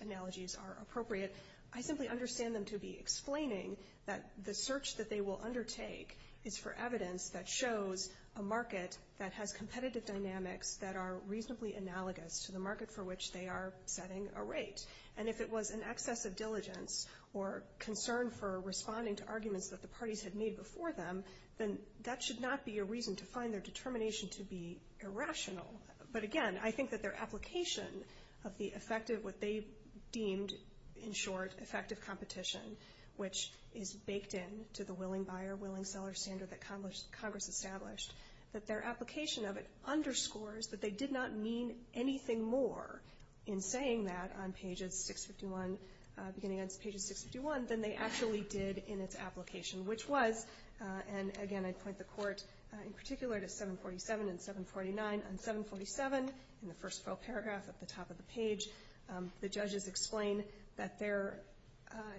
analogies are appropriate. I simply understand them to be explaining that the search that they will undertake is for evidence that shows a market that has competitive dynamics that are reasonably analogous to the market for which they are setting a rate. And if it was an excess of diligence or concern for responding to arguments that the parties had made before them, then that should not be a reason to find their determination to be irrational. But again, I think that their application of the effective, what they deemed in short, effective competition, which is baked in to the willing buyer, willing seller standard that Congress established, that their application of it underscores that they did not mean anything more in saying that on pages 651, beginning on pages 651, than they actually did in its application, which was, and again I point the Court in particular to 747 and 749. On 747, in the first full paragraph at the top of the page, the judges explain that they're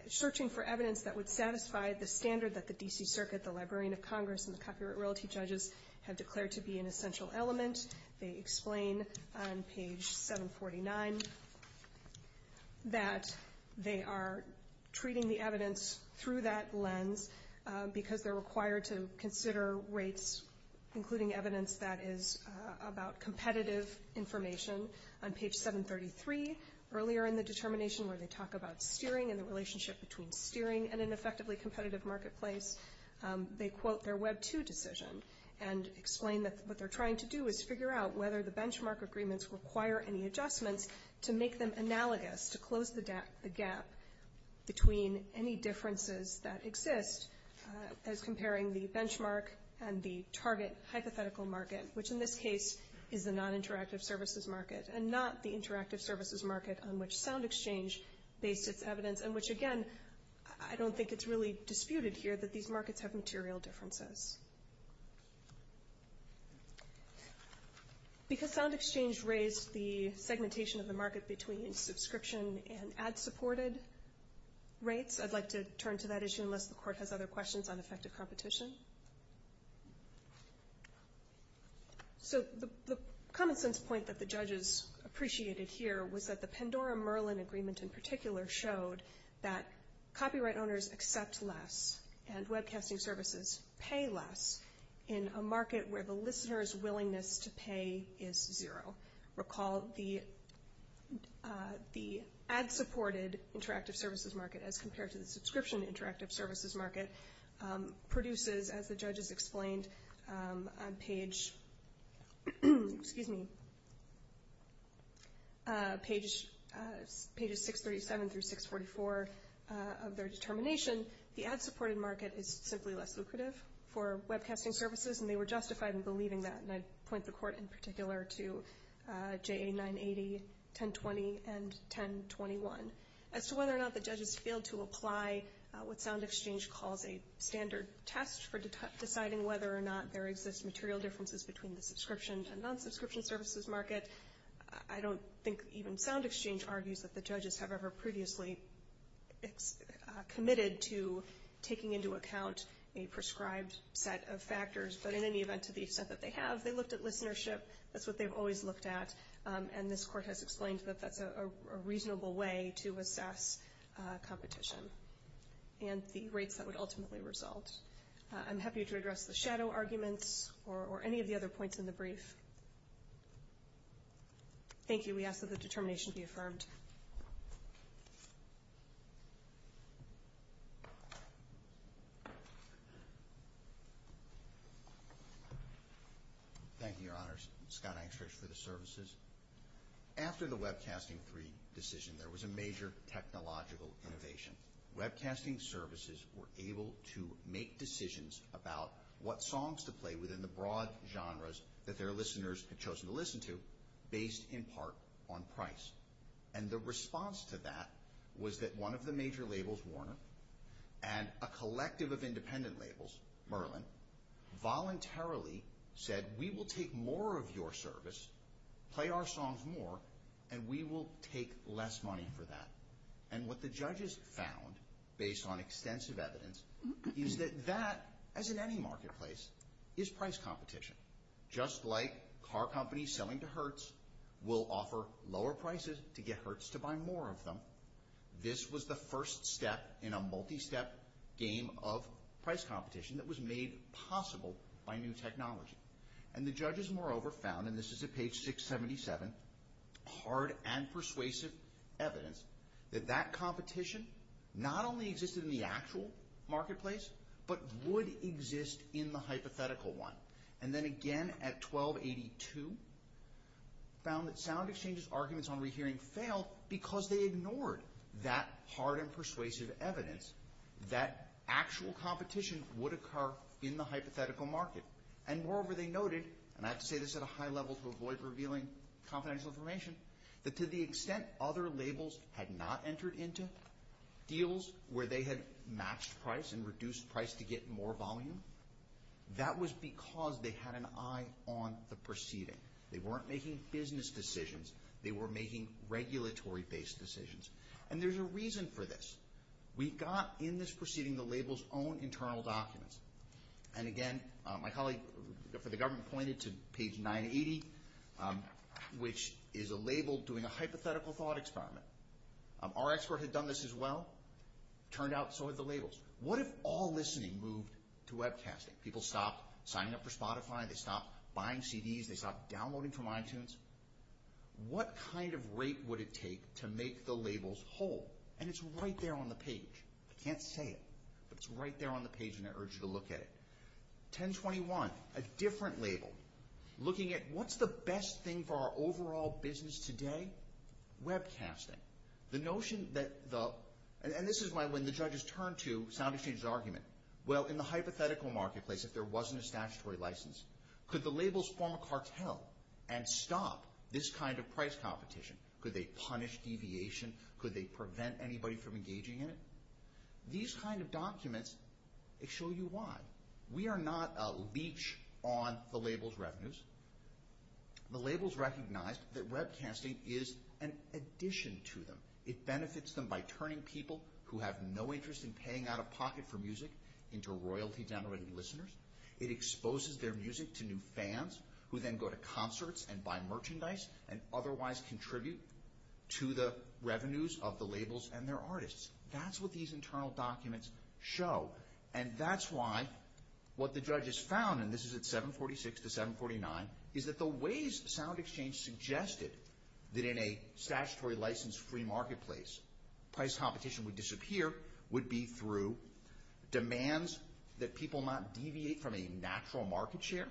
the DC Circuit, the Librarian of Congress, and the copyright royalty judges have declared to be an essential element. They explain on page 749 that they are treating the evidence through that lens because they're required to consider rates, including evidence that is about competitive information. On page 733, earlier in the determination where they talk about steering and the relationship between steering and an effectively competitive marketplace, they quote their Web 2 decision and explain that what they're trying to do is figure out whether the benchmark agreements require any adjustments to make them analogous, to close the gap between any differences that exist as comparing the benchmark and the target hypothetical market, which in this case is the non-interactive services market and not the interactive services market on which SoundExchange based its evidence, and which again, I don't think it's really disputed here that these markets have material differences. Because SoundExchange raised the segmentation of the market between subscription and ad-supported rates, I'd like to turn to that issue unless the Court has other questions on effective competition. So the common sense point that the judges appreciated here was that the Pandora-Merlin agreement in particular showed that copyright owners accept less and webcasting services pay less in a market where the listener's willingness to pay is zero. Recall the ad-supported interactive services market as compared to the subscription interactive services market produces, as the judges explained on page, excuse me, pages 637 through 644 of their determination, the ad-supported market is simply less lucrative for webcasting services, and they were justified in believing that. And I'd point the Court in particular to J.A. 980, 1020, and 1021. As to whether or not the judges failed to apply what SoundExchange calls a standard test for deciding whether or not there exists material differences between the subscription and non-subscription services market, I don't think even SoundExchange argues that the judges have ever previously committed to taking into account a prescribed set of factors, but in any event, to the extent that they have, they looked at listenership. That's what they've always looked at. And this Court has explained that that's a reasonable way to assess competition and the rates that would ultimately result. I'm happy to address the shadow arguments or any of the other points in the brief. Thank you. We ask that the determination be affirmed. Thank you, Your Honors. Scott Engstrich for the services. After the Webcasting III decision, there was a major technological innovation. Webcasting services were able to make decisions about what songs to play within the broad genres that their listeners had chosen to listen to, based in part on price. And the response to that was that one of the major labels, Warner, and a collective of independent labels, Merlin, voluntarily said, we will take more of your service, play our songs more, and we will take less money for that. And what the judges found, based on extensive evidence, is that that, as in any marketplace, is price competition. Just like car companies selling to Hertz will offer lower prices to get Hertz to buy more of them, this was the first step in a multi-step game of price competition that was made possible by new technology. And the judges, moreover, found, and this is at page 677, hard and persuasive evidence that that competition not only existed in the actual marketplace, but would exist in the hypothetical one. And then again at 1282, found that sound exchanges' arguments on rehearing failed because they ignored that hard and persuasive evidence that actual competition would occur in the hypothetical market. And moreover, they noted, and I have to say this at a high level to avoid revealing confidential information, that to the extent other labels had not entered into deals where they had matched price and reduced price to get more volume, that was because they had an eye on the proceeding. They weren't making business decisions. They were making regulatory based decisions. And there's a reason for this. We got in this proceeding the label's own internal documents. And again, my colleague for the government pointed to page 980, which is a label doing a hypothetical thought experiment. Our expert had done this as well. Turned out so had the labels. What if all listening moved to webcasting? People stopped signing up for Spotify. They stopped buying CDs. They stopped downloading from iTunes. What kind of rate would it take to make the labels whole? And it's right there on the page. I can't say it, but it's right there on the page and I urge you to look at it. 1021, a different label, looking at what's the best thing for our overall business today? Webcasting. The notion that the, and this is when the judges turn to sound exchange's argument. Well, in the hypothetical marketplace, if there wasn't a statutory license, could the labels form a cartel and stop this kind of price competition? Could they punish deviation? Could they prevent anybody from engaging in it? These kind of documents, they show you why. We are not a leech on the labels revenues. The labels recognize that webcasting is an addition to them. It benefits them by turning people who have no interest in paying out of pocket for music into royalty generating listeners. It exposes their music to new fans who then go to concerts and buy merchandise and otherwise contribute to the sale. And that's why what the judges found, and this is at 746 to 749, is that the ways sound exchange suggested that in a statutory license free marketplace, price competition would disappear, would be through demands that people not deviate from a natural market share,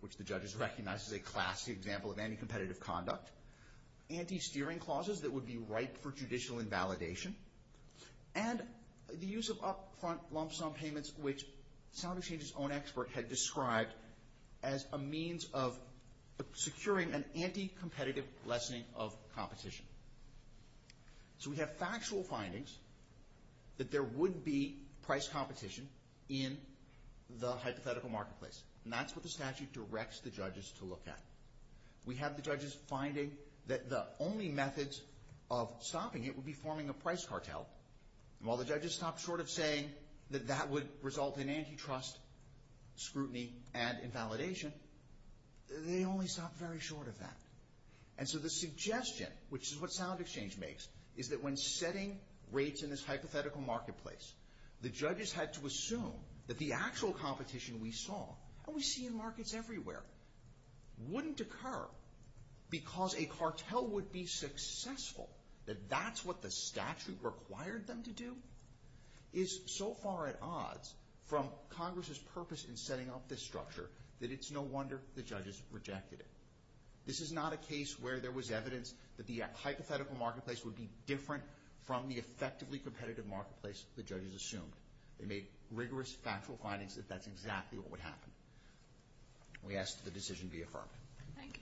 which the judges recognize as a classic example of anti-competitive conduct. Anti-steering clauses that would be ripe for judicial invalidation. And the use of upfront lump sum payments, which sound exchange's own expert had described as a means of securing an anti-competitive lessening of competition. So we have factual findings that there would be price competition in the hypothetical marketplace. And that's what the statute directs the judges to look at. We have the judges finding that the only methods of stopping it would be forming a price cartel. And while the judges stopped short of saying that that would result in antitrust, scrutiny, and invalidation, they only stopped very short of that. And so the suggestion, which is what sound exchange makes, is that when setting rates in this hypothetical marketplace, the judges had to assume that the actual competition we saw, and we see in markets everywhere, wouldn't occur because a cartel would be successful, that that's what the statute required them to do, is so far at odds from Congress's purpose in setting up this structure that it's no wonder the judges rejected it. This is not a case where there was evidence that the hypothetical marketplace would be different from the effectively competitive marketplace the judges assumed. They made rigorous, factual findings that that's exactly what would happen. We ask that the decision be affirmed. Thank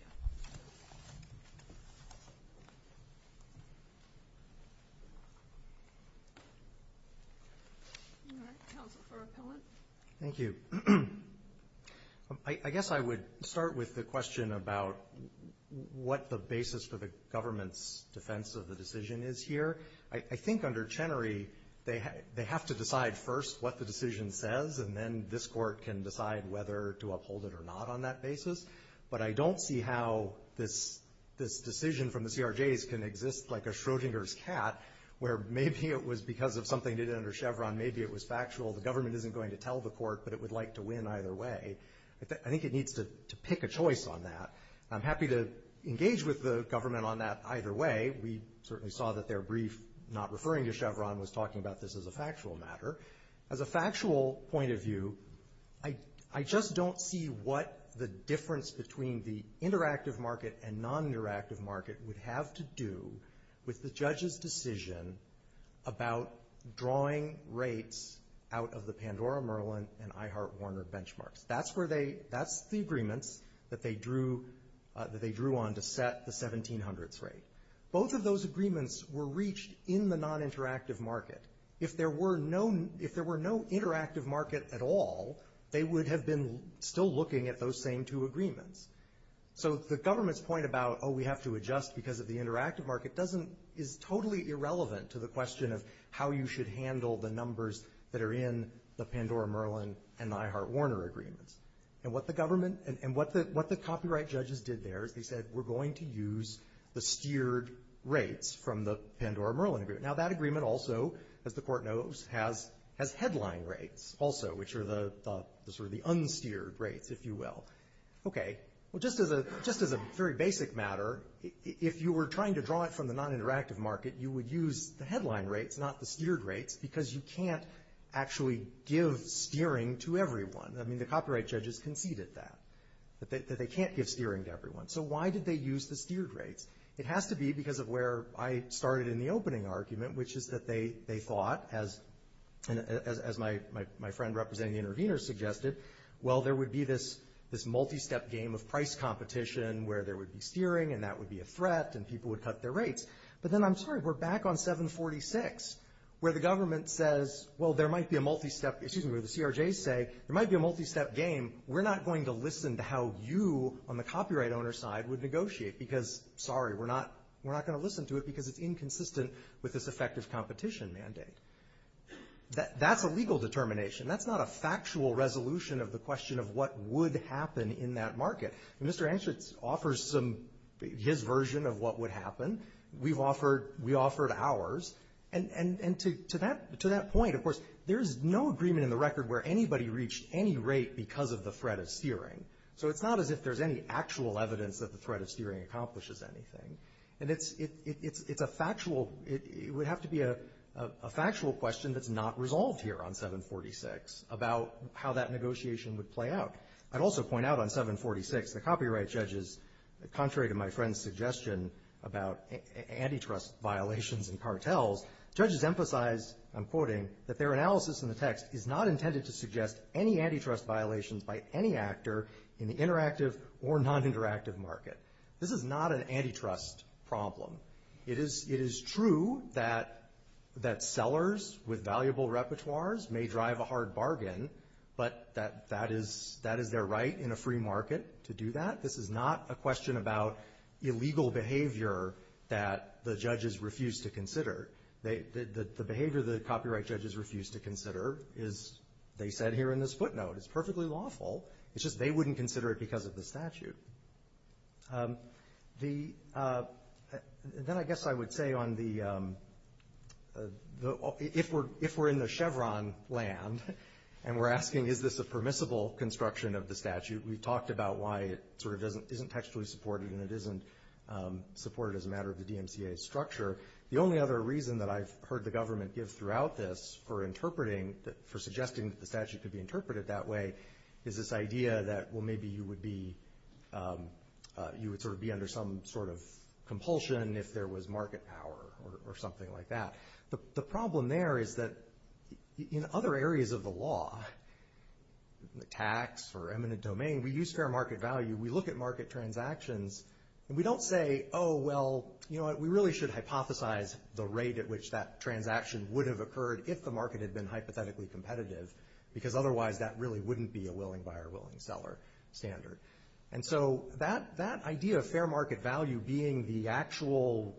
you. Thank you. I guess I would start with the question about what the basis for the government's defense of the decision is here. I think under Chenery, they have to decide first what the decision says, and then this court can decide whether to uphold it or not on that basis. But I don't see how this decision from the CRJs can exist like a Schrodinger's cat, where maybe it was because of something they did under Chevron. Maybe it was factual. The government isn't going to tell the court, but it would like to win either way. I think it needs to pick a choice on that. I'm happy to engage with the government on that either way. We certainly saw that their brief not referring to Chevron was talking about this as a factual matter. As a factual point of view, I just don't see what the difference between the interactive market and non-interactive market would have to do with the judge's decision about drawing rates out of the Pandora-Merlin and I heart Warner benchmarks. That's the agreements that they drew on to set the 1700s rate. Both of those agreements were reached in the non-interactive market. If there were no interactive market at all, they would have been still looking at those same two agreements. So the government's point about, oh, we have to adjust because of the interactive market is totally irrelevant to the question of how you should handle the numbers that are in the Pandora-Merlin and I heart Warner agreements. And what the government and what the copyright judges did there is they said, we're going to use the steered rates from the Pandora-Merlin agreement. Now, that agreement also, as the court knows, has headline rates also, which are the unsteered rates, if you will. Okay. Well, just as a very basic matter, if you were trying to draw it from the non-interactive market, you would use the headline rates, not the steered rates, because you can't actually give steering to everyone. I mean, the copyright judges conceded that, that they can't give steering to everyone. So why did they use the steered rates? It has to be because of where I started in the opening argument, which is that they thought, as my friend representing the interveners suggested, well, there would be this multi-step game of price competition where there would be steering and that would be a threat and people would cut their rates. But then, I'm sorry, we're back on 746, where the government says, well, there might be a multi-step, excuse me, where the CRJs say, there might be a multi-step game. We're not going to listen to how you on the copyright owner side would negotiate because, sorry, we're not going to listen to it because it's inconsistent with this effective competition mandate. That's a legal determination. That's not a factual resolution of the question of what would happen in that market. Mr. Anschutz offers his version of what would happen. We offered ours. And to that point, of course, there's no agreement in the record where anybody reached any rate because of the threat of steering. So it's not as if there's any actual evidence that the threat of steering accomplishes anything. And it's a factual, it would have to be a factual question that's not resolved here on 746 about how that negotiation would play out. I'd also point out on 746, the copyright judges, contrary to my friend's suggestion about antitrust violations and cartels, judges emphasized, I'm quoting, that their analysis in the text is not intended to suggest any antitrust violations by any actor in the interactive or non-interactive market. This is not an antitrust problem. It is true that sellers with valuable repertoires may drive a hard bargain, but that is their right in a free market to do that. This is not a question about illegal behavior that the judges refuse to consider. The behavior the copyright judges refuse to consider is, they said here in this footnote, is perfectly lawful. It's just they wouldn't consider it because of the statute. Then I guess I would say on the, if we're in the Chevron land and we're asking is this a permissible construction of the statute, we talked about why it sort of isn't textually supported and it isn't supported as a matter of the DMCA structure. The only other reason that I've heard the government give throughout this for interpreting, for suggesting that the statute could be interpreted that way is this idea that well maybe you would be, you would sort of be under some sort of compulsion if there was market power or something like that. The problem there is that in other areas of the law, the tax or eminent domain, we use fair market value. We look at market transactions and we don't say, oh well, we really should hypothesize the rate at which that transaction would have occurred if the market had been hypothetically competitive because otherwise that really wouldn't be a willing buyer, willing seller standard. That idea of fair market value being the actual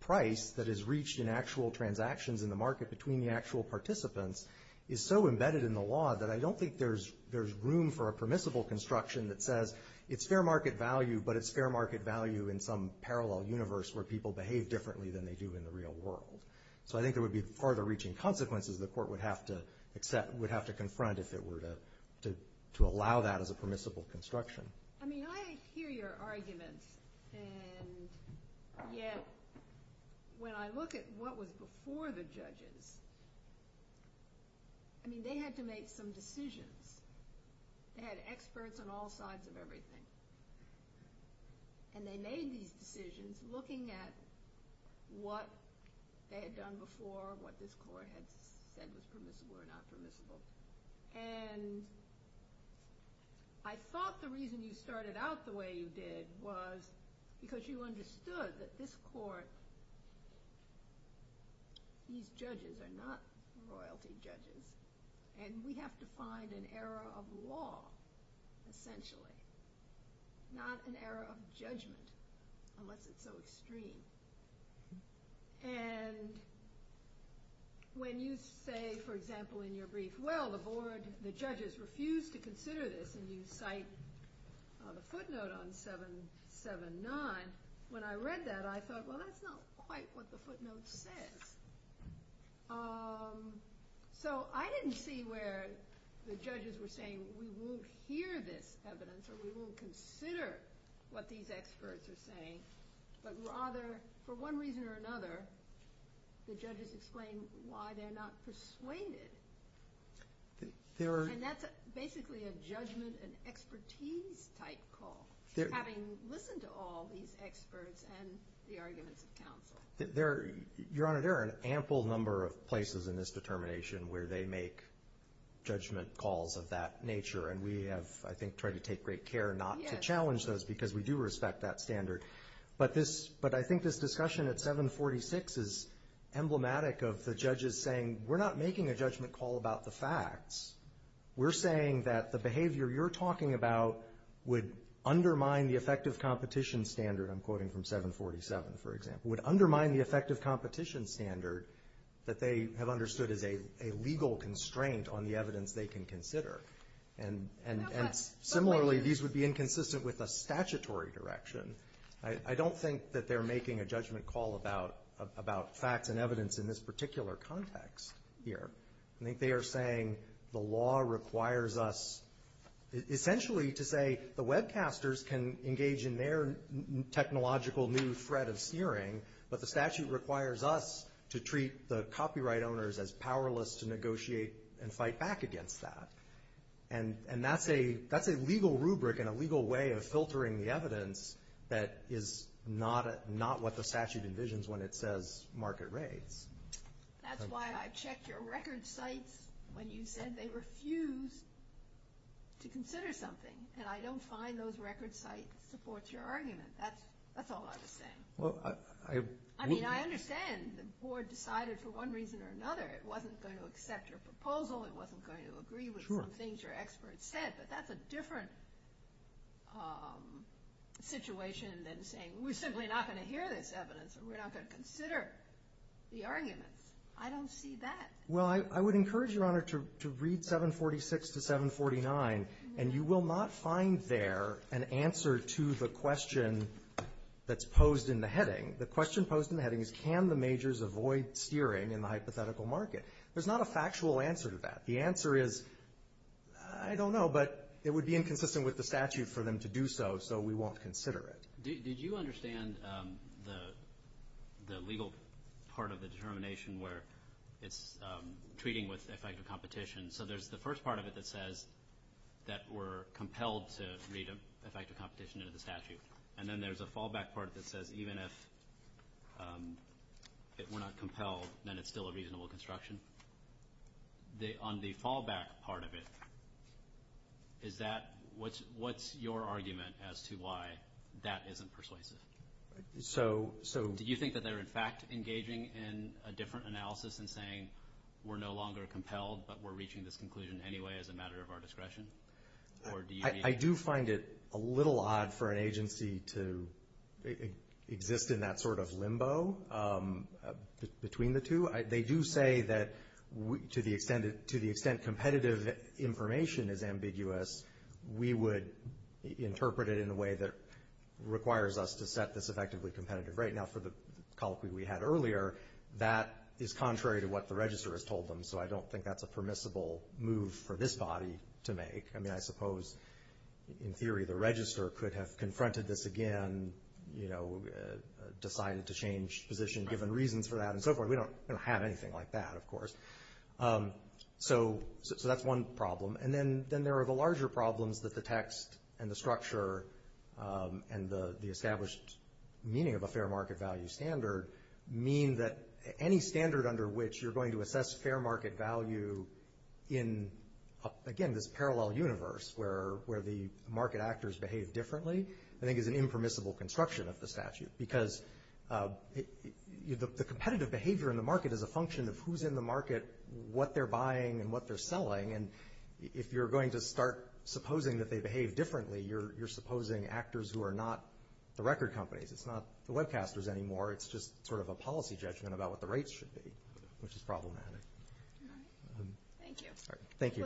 price that is reached in actual transactions in the market between the actual participants is so embedded in the law that I don't think there's room for a permissible construction that says it's fair market value but it's fair market value in some parallel universe where people behave differently than they do in the real world. So I think there would be further reaching consequences the court would have to confront if it were to allow that as a permissible construction. I thought the reason you started out the way you did was because you understood that this court, these judges are not royalty judges and we have to find an era of law essentially, not an era of judgment unless it's so extreme. And when you say for example in your brief, well the judges refused to consider this and you cite the footnote on 779, when I read that I thought well that's not quite what the footnote says. So I didn't see where the judges were saying we won't hear this evidence or we won't consider what these experts are saying but rather for one reason or another the judges explain why they're not persuaded. And that's basically a judgment and expertise type call. Having listened to all these experts and the arguments of counsel. Your Honor, there are an ample number of places in this determination where they make judgment calls of that nature and we have I think tried to take great care not to challenge those because we do respect that standard. But I think this discussion at 746 is emblematic of the judges saying we're not making a judgment call about the facts. We're saying that the behavior you're talking about would undermine the effective competition standard, I'm quoting from 747 for example, would undermine the effective competition standard that they have understood as a legal constraint on the evidence they can consider. And similarly these would be inconsistent with a statutory direction. I don't think that they're making a judgment call about facts and evidence in this particular context here. I think they are saying the law requires us essentially to say the webcasters can engage in their technological new threat of sneering but the statute requires us to treat the copyright owners as powerless to negotiate and fight back against that. And that's a legal rubric and a legal way of filtering the evidence that is not what the statute envisions when it says market rates. That's why I checked your record sites when you said they refuse to consider something and I don't find those record sites supports your argument. That's all I'm saying. I mean I understand the board decided for one reason or another it wasn't going to accept your proposal, it wasn't going to agree with some things your experts said but that's a different situation than saying we're simply not going to hear this evidence and we're not going to consider the arguments. I don't see that. Well I would encourage your honor to read 746 to 749 and you will not find there an answer to the question that's posed in the heading. The question posed in the heading is can the majors avoid steering in the hypothetical market? There's not a factual answer to that. The answer is I don't know but it would be inconsistent with the statute for them to do so so we won't consider it. Did you understand the legal part of the determination where it's treating with effective competition so there's the first part of it that says that we're compelled to read effective competition into the statute and then there's a fallback part that says even if we're not compelled then it's still a reasonable construction. On the fallback part of it is that what's your argument as to why that isn't persuasive? Do you think that they're in fact engaging in a different analysis in saying we're no longer compelled but we're reaching this conclusion anyway as a matter of our discretion? I do find it a little odd for an agency to exist in that sort of limbo between the two. They do say that to the extent competitive information is ambiguous we would interpret it in a way that requires us to set this effectively competitive rate. Now for the colloquy we had earlier that is contrary to what the register has told them so I don't think that's a permissible move for this body to make. I suppose in theory the register could have confronted this again, decided to change position given reasons for that and so forth. We don't have anything like that of course. That's one problem and then there are the larger problems that the text and the structure and the established meaning of a fair market value standard mean that any standard under which you're going to assess fair market value in again this parallel universe where the market actors behave differently I think is an impermissible construction of the statute because the competitive behavior in the market is a function of who's in the market, what they're buying and what they're selling and if you're going to start supposing that they behave differently you're supposing actors who are not the record companies. It's not the webcasters anymore it's just sort of a policy judgment about what the rates should be which is problematic. Thank you.